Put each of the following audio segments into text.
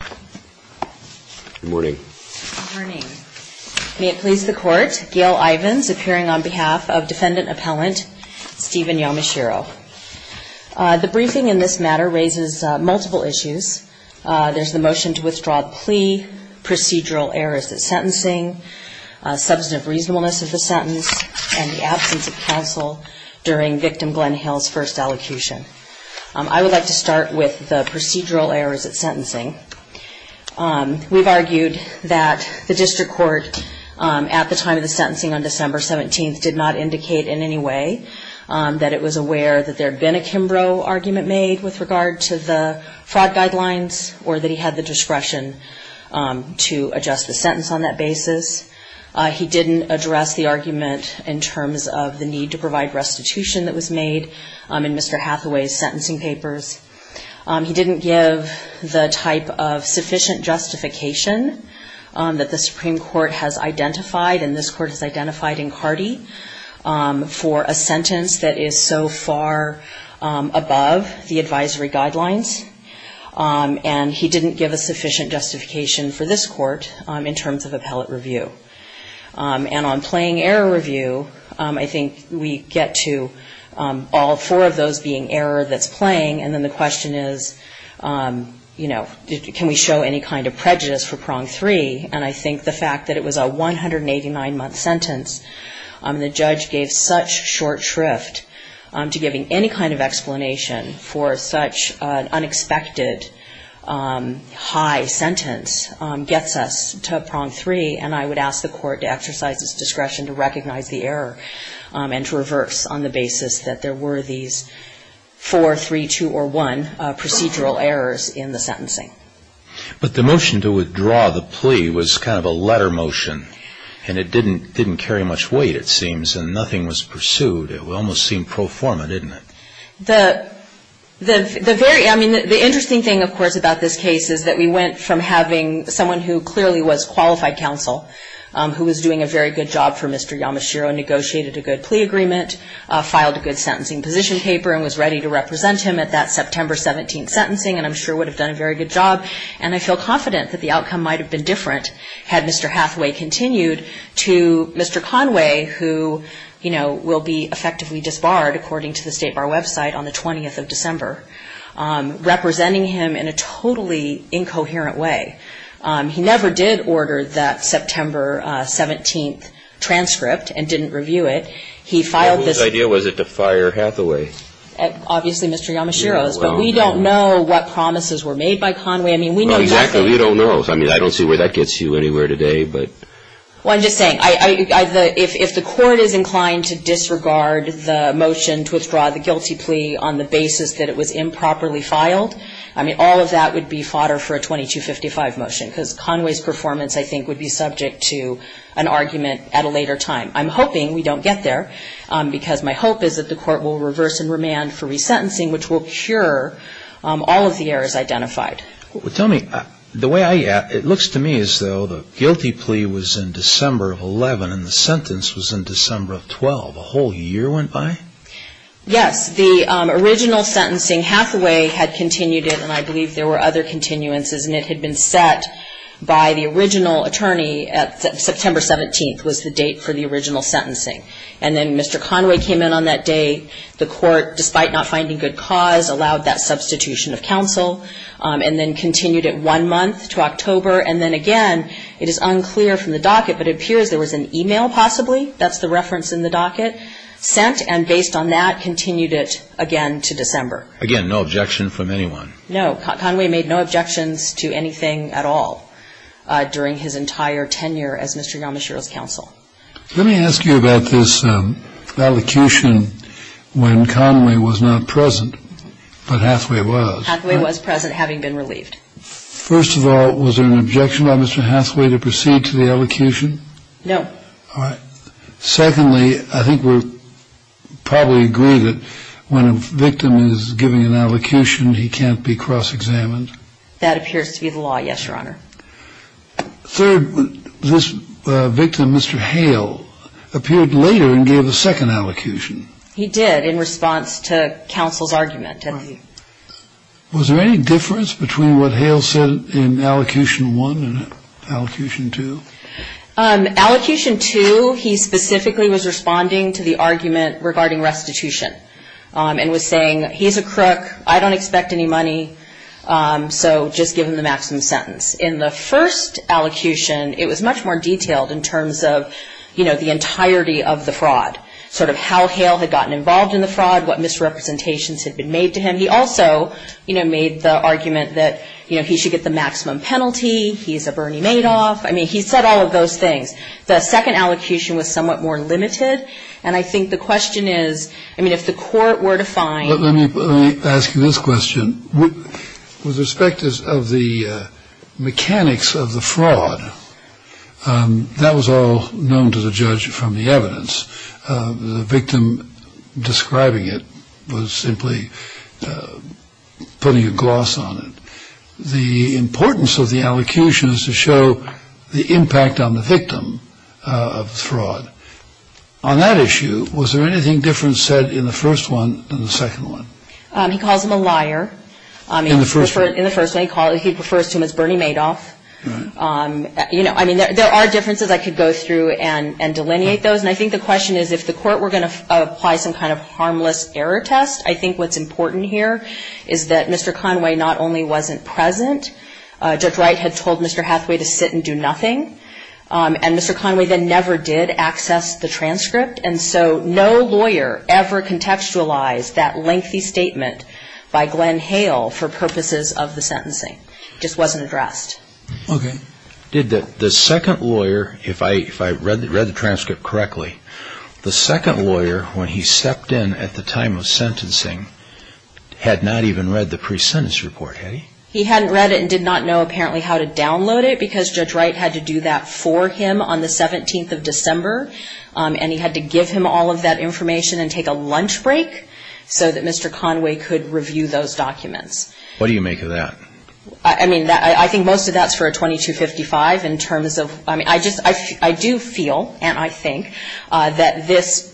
Good morning. May it please the Court, Gail Ivins appearing on behalf of Defendant Appellant Steven Yamashiro. The briefing in this matter raises multiple issues. There's the motion to withdraw the plea, procedural errors at sentencing, substantive reasonableness of the sentence, and the absence of counsel during victim Glenn Hill's first allocution. I would like to start with the procedural errors at sentencing. We've argued that the District Court at the time of the sentencing on December 17th did not indicate in any way that it was aware that there had been a Kimbrough argument made with regard to the fraud guidelines or that he had the discretion to adjust the sentence on that basis. He didn't address the argument in terms of the need to provide restitution that was made in Mr. Hathaway's sentencing papers. He didn't give the type of sufficient justification that the Supreme Court has identified and this Court has identified in Carty for a sentence that is so far above the advisory guidelines. And he didn't give a sufficient justification for this Court in terms of appellate review. And on plain error review, I think we get to all four of those being error that's playing, and then the question is, you know, can we show any kind of prejudice for prong three? And I think the fact that it was a 189-month sentence, the judge gave such short shrift to giving any kind of explanation for such an unexpected high sentence gets us to prong three, and I would ask the Court to exercise its discretion to recognize the error and to reverse on the basis that there were these four, three, two, or one procedural errors in the sentencing. But the motion to withdraw the plea was kind of a letter motion, and it didn't carry much weight, it seems, and nothing was pursued. It almost seemed pro forma, didn't it? The very – I mean, the interesting thing, of course, about this case is that we went from having someone who clearly was qualified counsel, who was doing a very good job for Mr. Yamashiro, negotiated a good plea agreement, filed a good sentencing position paper, and was ready to represent him at that September 17th sentencing, and I'm sure would have done a very good job, and I feel confident that the outcome might have been different had Mr. Hathaway continued to Mr. Conway, who, you know, will be effectively disbarred, according to the State Bar website, on the 20th of December, representing him in a totally incoherent way. He never did order that September 17th transcript and didn't review it. He filed this – Whose idea was it to fire Hathaway? Obviously, Mr. Yamashiro's, but we don't know what promises were made by Conway. I mean, we know – Exactly. We don't know. I mean, I don't see where that gets you anywhere today, but – Well, I'm just saying, if the court is inclined to disregard the motion to withdraw the guilty plea on the basis that it was improperly filed, I mean, all of that would be fought for a 2255 motion, because Conway's performance, I think, would be subject to an argument at a later time. I'm hoping we don't get there, because my hope is that the court will reverse and remand for resentencing, which will cure all of the errors identified. Well, tell me, the way I – it looks to me as though the guilty plea was in December of 11 and the sentence was in December of 12. A whole year went by? Yes. The original sentencing, Hathaway had continued it, and I believe there were other continuances, and it had been set by the original attorney at September 17th was the date for the original sentencing. And then Mr. Conway came in on that day. The court, despite not finding good cause, allowed that substitution of counsel, and then continued it one month to October, and then again, it is unclear from the docket, but it appears there was an e-mail, possibly – that's the reference in the docket – sent, and based on that, continued it again to December. Again, no objection from anyone? No. Conway made no objections to anything at all during his entire tenure as Mr. Yamashiro's counsel. Let me ask you about this elocution when Conway was not present, but Hathaway was. Hathaway was present, having been relieved. First of all, was there an objection by Mr. Hathaway to proceed to the elocution? No. All right. Secondly, I think we'll probably agree that when a victim is given an elocution, he can't be cross-examined. That appears to be the law, yes, Your Honor. Third, this victim, Mr. Hale, appeared later and gave a second elocution. He did, in response to counsel's argument. Right. Was there any difference between what Hale said in Elocution 1 and Elocution 2? Elocution 2, he specifically was responding to the argument regarding restitution and was saying, he's a crook, I don't expect any money, so just give him the maximum sentence. In the first elocution, it was much more detailed in terms of the entirety of the fraud, sort of how Hale had gotten involved in the fraud, what misrepresentations had been made to him. He also made the argument that he should get the maximum penalty, he's a Bernie Madoff. I mean, he said all of those things. The second elocution was somewhat more limited, and I think the question is, I mean, if the court were to find Let me ask you this question. With respect of the mechanics of the fraud, that was all known to the judge from the evidence. The victim describing it was simply putting a gloss on it. The importance of the elocution is to show the impact on the victim of the fraud. On that issue, was there anything different said in the first one than the second one? He calls him a liar, he refers to him as Bernie Madoff. There are differences, I could go through and delineate those, and I think the question is if the court were going to apply some kind of harmless error test, I think what's important here is that Mr. Conway not only wasn't present, Judge Wright had told Mr. Hathaway to sit and do nothing, and Mr. Conway then never did access the transcript, and so no lawyer ever contextualized that lengthy statement by Glenn Hale for purposes of the sentencing. It just wasn't addressed. Did the second lawyer, if I read the transcript correctly, the second lawyer, when he stepped in at the time of sentencing, had not even read the pre-sentence report, had he? He hadn't read it and did not know apparently how to download it, because Judge Wright had to do that for him on the 17th of December, and he had to give him all of that information and take a lunch break so that Mr. Conway could review those documents. What do you make of that? I mean, I think most of that's for a 2255 in terms of, I mean, I just, I do feel, and I think, that this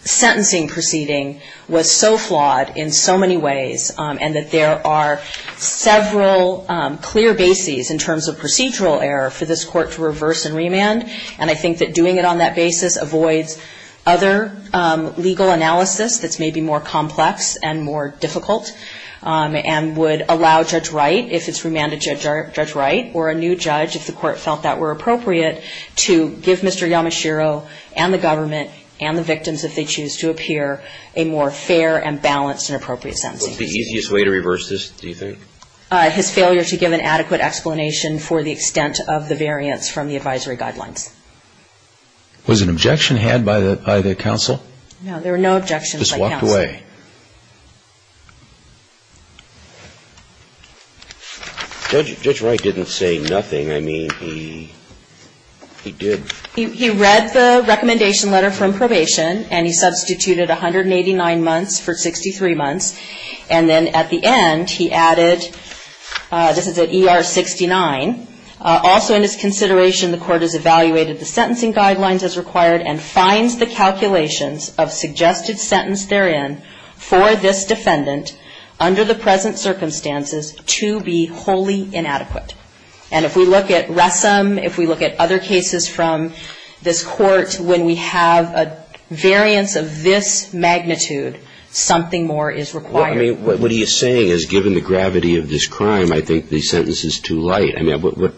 sentencing proceeding was so flawed in so many ways, and that there are several clear bases in terms of procedural error for this Court to reverse and remand, and I think that doing it on that basis avoids other legal analysis that's maybe more complex and more difficult, and would allow Judge Wright, if it's remanded Judge Wright, or give Mr. Yamashiro and the government and the victims, if they choose to appear, a more fair and balanced and appropriate sentencing. What's the easiest way to reverse this, do you think? His failure to give an adequate explanation for the extent of the variance from the advisory guidelines. Was an objection had by the counsel? No, there were no objections by counsel. Just walk away. Judge Wright didn't say nothing, I mean, he, he did. He read the recommendation letter from probation, and he substituted 189 months for 63 months, and then at the end, he added, this is at ER 69, also in his consideration, the Court has evaluated the sentencing guidelines as required, and finds the calculations of suggested sentence therein, for this defendant, under the present circumstances, to be wholly inadequate. And if we look at Ressam, if we look at other cases from this Court, when we have a variance of this magnitude, something more is required. Well, I mean, what he is saying is, given the gravity of this crime, I think the sentence is too light. I mean, what, what,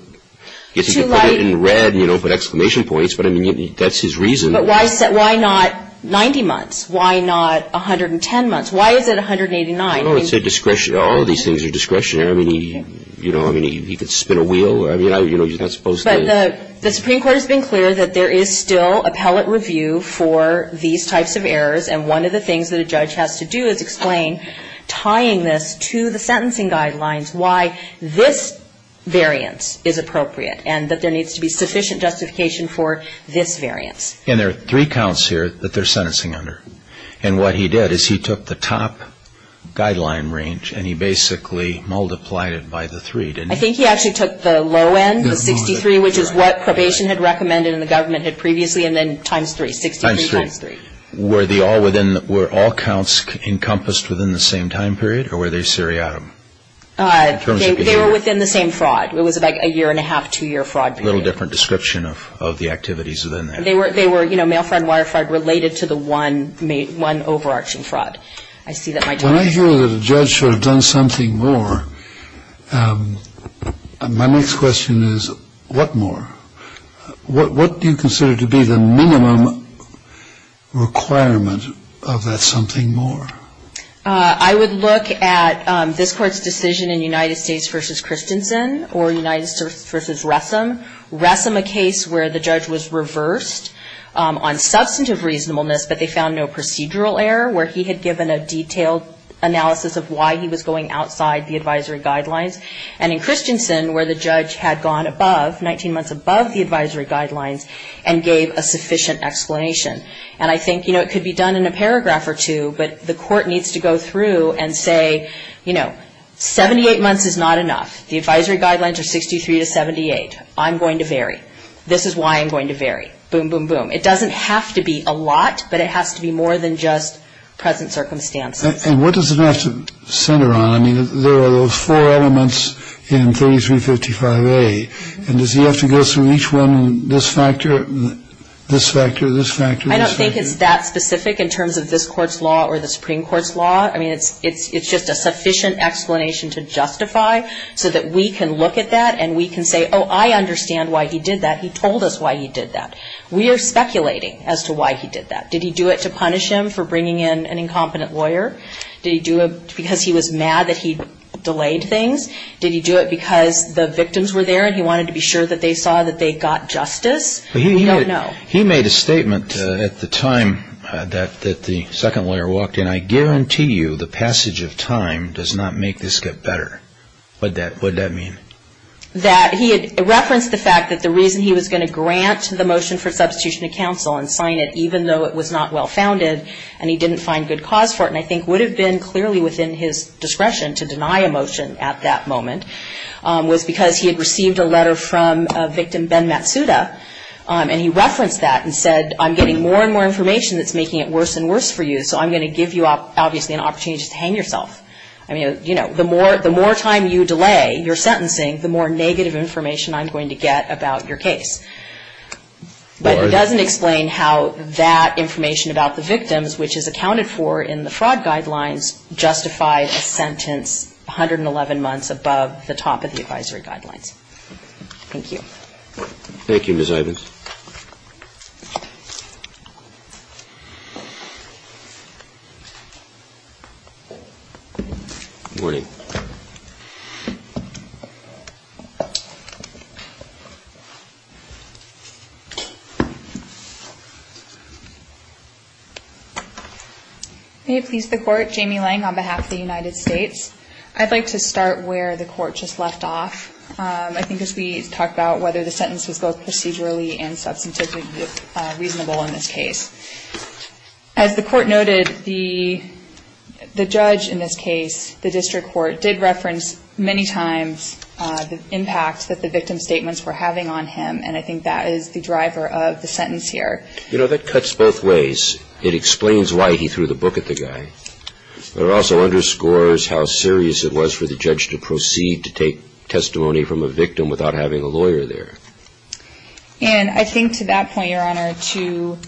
you think you can put it in red, and you don't put exclamation points, but I mean, that's his reason. But why, why not 90 months? Why not 110 months? Why is it 189? I don't know. It's a discretion. All of these things are discretionary. I mean, he, you know, I mean, he could spin a wheel, I mean, I, you know, you're not supposed to. But the, the Supreme Court has been clear that there is still appellate review for these types of errors, and one of the things that a judge has to do is explain, tying this to the sentencing guidelines, why this variance is appropriate, and that there needs to be sufficient justification for this variance. And there are three counts here that they're sentencing under. And what he did is he took the top guideline range, and he basically multiplied it by the three, didn't he? I think he actually took the low end, the 63, which is what probation had recommended and the government had previously, and then times three, 63 times three. Were they all within, were all counts encompassed within the same time period, or were they seriatim? They were within the same fraud. It was about a year-and-a-half, two-year fraud period. Little different description of, of the activities within that. They were, they were, you know, mail fraud and wire fraud related to the one, one overarching fraud. I see that my time. When I hear that a judge should have done something more, my next question is, what more? What, what do you consider to be the minimum requirement of that something more? I would look at this court's decision in United States v. Christensen or United States v. Ressam. Ressam, a case where the judge was reversed on substantive reasonableness, but they found no procedural error where he had given a detailed analysis of why he was going outside the advisory guidelines. And in Christensen, where the judge had gone above, 19 months above the advisory guidelines and gave a sufficient explanation. And I think, you know, it could be done in a paragraph or two, but the court needs to go through and say, you know, 78 months is not enough. The advisory guidelines are 63 to 78. I'm going to vary. This is why I'm going to vary. Boom, boom, boom. It doesn't have to be a lot, but it has to be more than just present circumstances. And what does it have to center on? I mean, there are those four elements in 3355A. And does he have to go through each one, this factor, this factor, this factor, this factor? I don't think it's that specific in terms of this court's law or the Supreme Court's law. I mean, it's just a sufficient explanation to justify so that we can look at that and we can say, oh, I understand why he did that. He told us why he did that. We are speculating as to why he did that. Did he do it to punish him for bringing in an incompetent lawyer? Did he do it because he was mad that he delayed things? Did he do it because the victims were there and he wanted to be sure that they saw that they got justice? We don't know. He made a statement at the time that the second lawyer walked in, I guarantee you the passage of time does not make this get better. What did that mean? That he had referenced the fact that the reason he was going to grant the motion for substitution to counsel and sign it even though it was not well-founded and he didn't find good cause for it, and I think would have been clearly within his discretion to deny a motion at that moment, was because he had received a letter from victim Ben Matsuda. And he referenced that and said, I'm getting more and more information that's making it worse and worse for you, so I'm going to give you obviously an opportunity to hang yourself. I mean, you know, the more time you delay your sentencing, the more negative information I'm going to get about your case. But it doesn't explain how that information about the victims, which is accounted for in the fraud guidelines, justified a sentence 111 months above the top of the advisory guidelines. Thank you. Thank you, Ms. Ivins. Good morning. May it please the Court, Jamie Lang on behalf of the United States. I'd like to start where the Court just left off. I think as we talked about whether the sentence was both procedurally and substantively reasonable in this case. As the Court noted, the judge in this case, the district court, did reference many times the impact that the victim's statements were having on him, and I think that is the driver of the sentence here. You know, that cuts both ways. It explains why he threw the book at the guy, but it also underscores how serious it was for the judge to proceed to take testimony from a victim without having a lawyer there. And I think to that point, Your Honor, to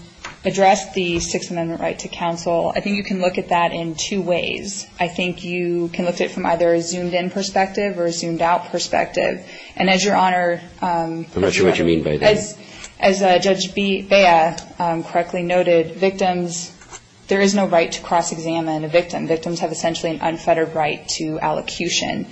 address the Sixth Amendment right to counsel, I think you can look at that in two ways. I think you can look at it from either a zoomed-in perspective or a zoomed-out perspective. And as Your Honor... I'm not sure what you mean by that. As Judge Bea correctly noted, victims, there is no right to cross-examine a victim. Victims have essentially an unfettered right to allocution.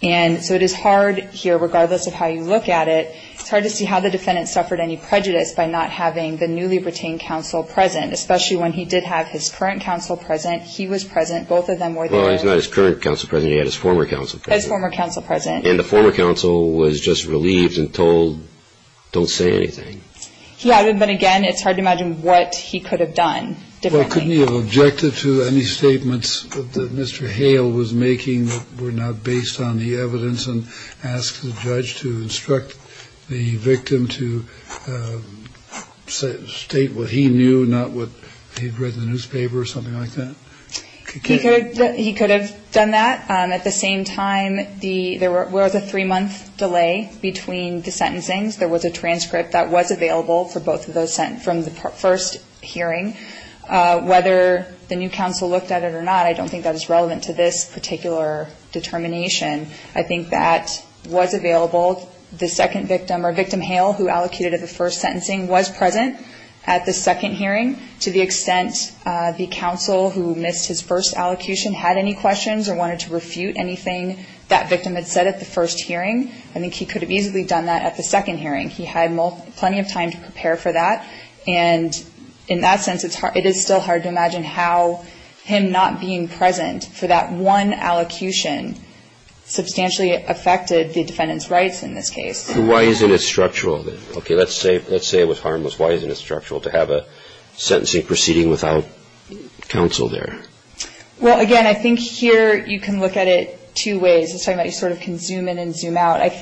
And so it is hard here, regardless of how you look at it, it's hard to see how the defendant suffered any prejudice by not having the newly retained counsel present, especially when he did have his current counsel present. He was present. Both of them were there. Well, he's not his current counsel present. He had his former counsel present. His former counsel present. And the former counsel was just relieved and told, don't say anything. Yeah, but again, it's hard to imagine what he could have done differently. Couldn't he have objected to any statements that Mr. Hale was making that were not based on the evidence and asked the judge to instruct the victim to state what he knew, not what he'd read in the newspaper or something like that? He could have done that. At the same time, there was a three-month delay between the sentencing. There was a transcript that was available for both of those from the first hearing. Whether the new counsel looked at it or not, I don't think that is relevant to this particular determination. I think that was available. The second victim, or victim Hale, who allocated at the first sentencing, was present at the second hearing. To the extent the counsel who missed his first allocation had any questions or wanted to refute anything that victim had said at the first hearing, I think he could have easily done that at the second hearing. He had plenty of time to prepare for that. And in that sense, it is still hard to imagine how him not being present for that one allocution substantially affected the defendant's rights in this case. Why isn't it structural? Okay, let's say it was harmless. Why isn't it structural to have a sentencing proceeding without counsel there? Well, again, I think here you can look at it two ways. You sort of can zoom in and zoom out. Let's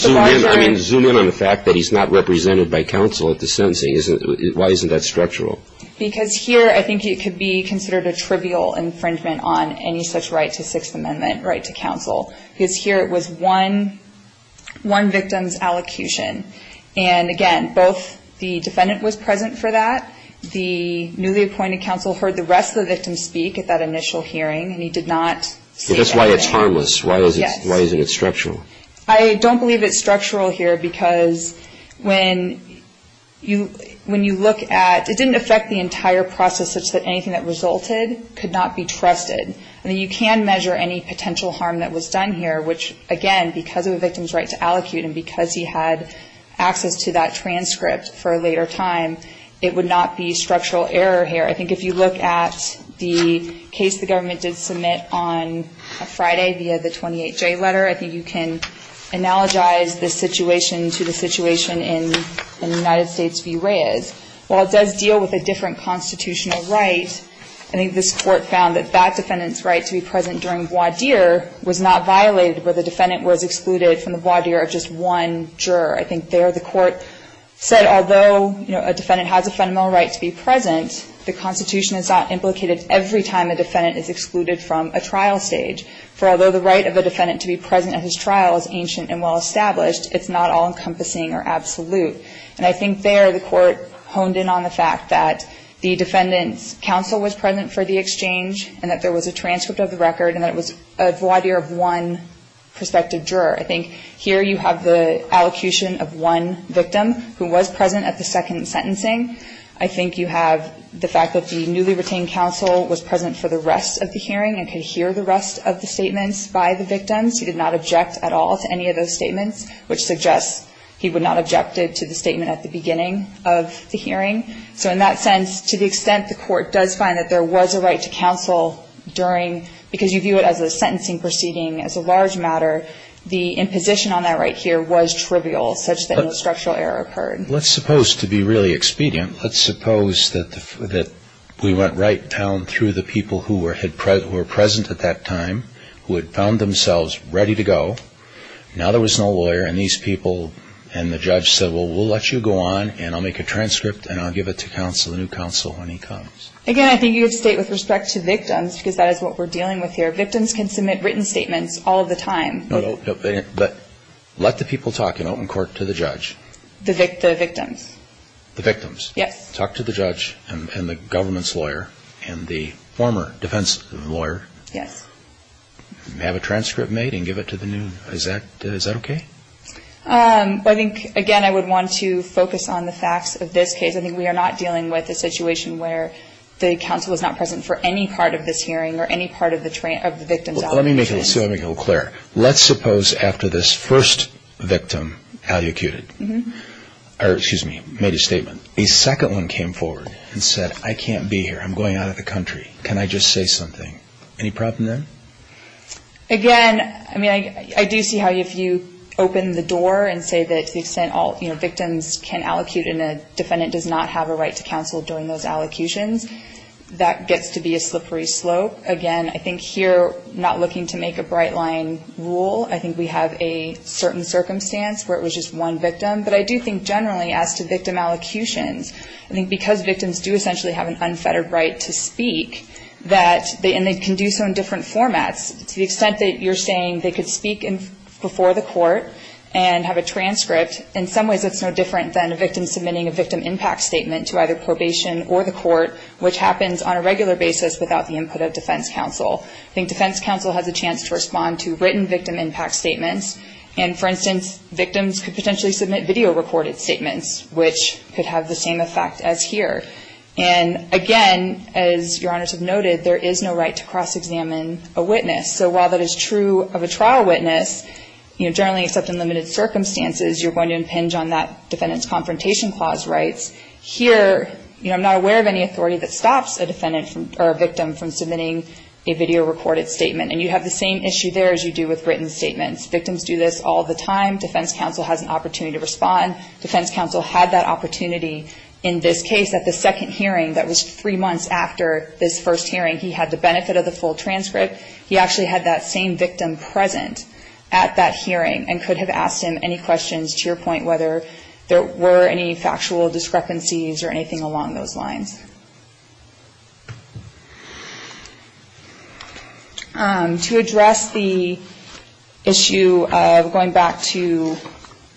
zoom in on the fact that he's not represented by counsel at the sentencing. Why isn't that structural? Because here I think it could be considered a trivial infringement on any such right to Sixth Amendment right to counsel. Because here it was one victim's allocution. And, again, both the defendant was present for that. The newly appointed counsel heard the rest of the victim speak at that initial hearing, and he did not say anything. That's why it's harmless. Why isn't it structural? I don't believe it's structural here because when you look at – it didn't affect the entire process such that anything that resulted could not be trusted. I mean, you can measure any potential harm that was done here, which, again, because of a victim's right to allocute and because he had access to that transcript for a later time, it would not be structural error here. I think if you look at the case the government did submit on Friday via the 28J letter, I think you can analogize this situation to the situation in the United States v. Reyes. While it does deal with a different constitutional right, I think this Court found that that defendant's right to be present during voir dire was not violated, but the defendant was excluded from the voir dire of just one juror. I think there the Court said although, you know, a defendant has a fundamental right to be present, the Constitution is not implicated every time a defendant is excluded from a trial stage. For although the right of a defendant to be present at his trial is ancient and well-established, it's not all-encompassing or absolute. And I think there the Court honed in on the fact that the defendant's counsel was present for the exchange and that there was a transcript of the record and that it was a voir dire of one prospective juror. I think here you have the allocution of one victim who was present at the second sentencing. I think you have the fact that the newly retained counsel was present for the rest of the hearing and could hear the rest of the statements by the victims. He did not object at all to any of those statements, which suggests he would not objected to the statement at the beginning of the hearing. So in that sense, to the extent the Court does find that there was a right to counsel during, because you view it as a sentencing proceeding, as a large matter, the imposition on that right here was trivial such that no structural error occurred. Let's suppose, to be really expedient, let's suppose that we went right down through the people who were present at that time, who had found themselves ready to go. Now there was no lawyer and these people and the judge said, well, we'll let you go on and I'll make a transcript and I'll give it to counsel, the new counsel, when he comes. Again, I think you have to state with respect to victims because that is what we're dealing with here. Victims can submit written statements all the time. But let the people talk in open court to the judge. The victims. The victims. Yes. Talk to the judge and the government's lawyer and the former defense lawyer. Yes. Have a transcript made and give it to the new. Is that okay? I think, again, I would want to focus on the facts of this case. I think we are not dealing with a situation where the counsel is not present for any part of this hearing or any part of the victims' allegations. Let me make it a little clearer. Let's suppose after this first victim made a statement, a second one came forward and said, I can't be here. I'm going out of the country. Can I just say something? Any problem there? Again, I do see how if you open the door and say that to the extent all victims can allocute and a defendant does not have a right to counsel during those allocutions, that gets to be a slippery slope. Again, I think here, not looking to make a bright line rule, I think we have a certain circumstance where it was just one victim. But I do think generally as to victim allocutions, I think because victims do essentially have an unfettered right to speak and they can do so in different formats, to the extent that you're saying they could speak before the court and have a transcript, in some ways it's no different than a victim submitting a victim impact statement to either probation or the court, which happens on a regular basis without the input of defense counsel. I think defense counsel has a chance to respond to written victim impact statements. And, for instance, victims could potentially submit video-recorded statements, which could have the same effect as here. And, again, as Your Honors have noted, there is no right to cross-examine a witness. So while that is true of a trial witness, generally except in limited circumstances, you're going to impinge on that defendant's confrontation clause rights. Here, I'm not aware of any authority that stops a victim from submitting a video-recorded statement. And you have the same issue there as you do with written statements. Victims do this all the time. Defense counsel has an opportunity to respond. Defense counsel had that opportunity in this case at the second hearing that was three months after this first hearing. He had the benefit of the full transcript. He actually had that same victim present at that hearing and could have asked him any questions, to your point, whether there were any factual discrepancies or anything along those lines. To address the issue of going back to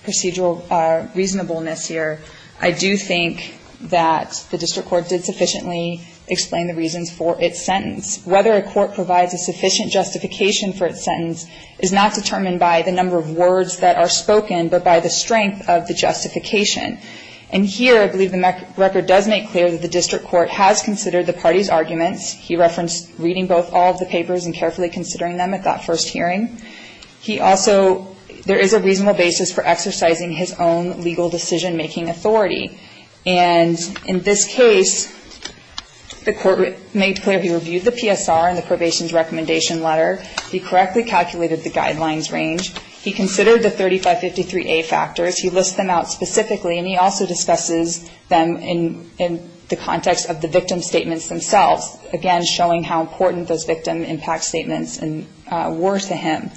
procedural reasonableness here, I do think that the district court did sufficiently explain the reasons for its sentence. Whether a court provides a sufficient justification for its sentence is not determined by the number of words that are spoken, but by the strength of the justification. And here, I believe the record does make clear that the district court has considered the parties' arguments. He referenced reading both all of the papers and carefully considering them at that first hearing. He also, there is a reasonable basis for exercising his own legal decision-making authority. And in this case, the court made clear he reviewed the PSR and the probation's recommendation letter. He correctly calculated the guidelines range. He considered the 3553A factors. He lists them out specifically. And he also discusses them in the context of the victim statements themselves, again, showing how important those victim impact statements were to him.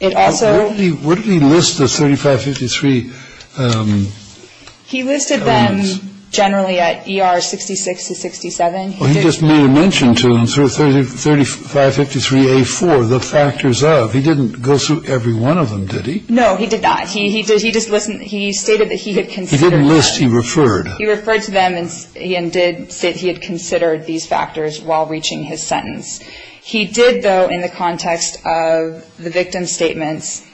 It also ---- Kennedy, where did he list the 3553 elements? He listed them generally at ER 66 to 67. He just made a mention to them, 3553A4, the factors of. He didn't go through every one of them, did he? No, he did not. He just listed them. He stated that he had considered them. He didn't list, he referred. He referred to them and did state he had considered these factors while reaching his sentence. He did, though, in the context of the victim statements,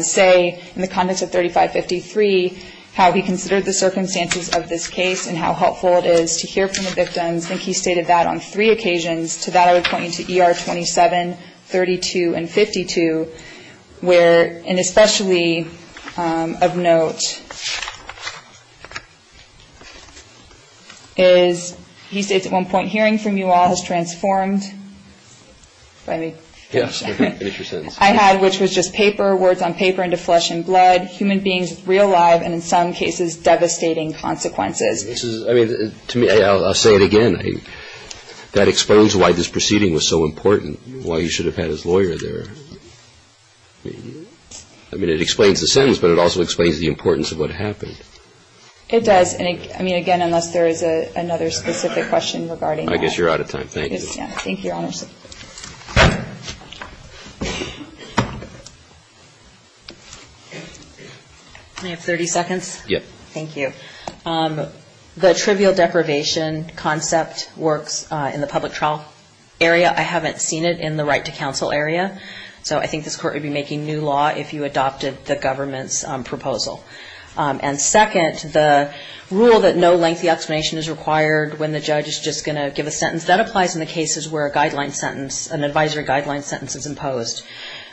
say in the context of 3553 how he considered the circumstances of this case and how helpful it is to hear from the victims. I think he stated that on three occasions. To that I would point you to ER 27, 32, and 52, where, and especially of note, is he states at one point, hearing from you all has transformed by me. Yes. Finish your sentence. I had, which was just paper, words on paper into flesh and blood, human beings real live and in some cases devastating consequences. I mean, to me, I'll say it again. That explains why this proceeding was so important, why you should have had his lawyer there. I mean, it explains the sentence, but it also explains the importance of what happened. It does. I mean, again, unless there is another specific question regarding that. I guess you're out of time. Thank you. Thank you, Your Honor. May I have 30 seconds? Yes. Thank you. The trivial deprivation concept works in the public trial area. I haven't seen it in the right to counsel area. So I think this Court would be making new law if you adopted the government's proposal. And second, the rule that no lengthy explanation is required when the judge is just going to give a sentence, that applies in the cases where a guideline sentence, an advisory guideline sentence is imposed.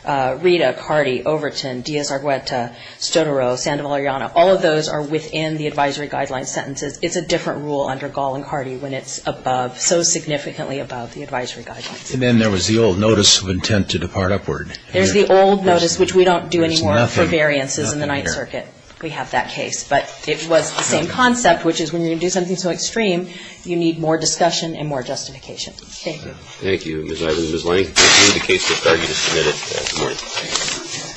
Rita, Cardi, Overton, Diaz-Argueta, Stonerow, Sandoval-Ariano, all of those are within the advisory guideline sentences. It's a different rule under Gall and Cardi when it's above, so significantly above the advisory guidelines. And then there was the old notice of intent to depart upward. There's the old notice, which we don't do anymore for variances in the Ninth Circuit. We have that case. But it was the same concept, which is when you're going to do something so extreme, you need more discussion and more justification. Thank you. Thank you, Ms. Eisen and Ms. Lange. This concludes the case for Cardi to submit it. Good morning.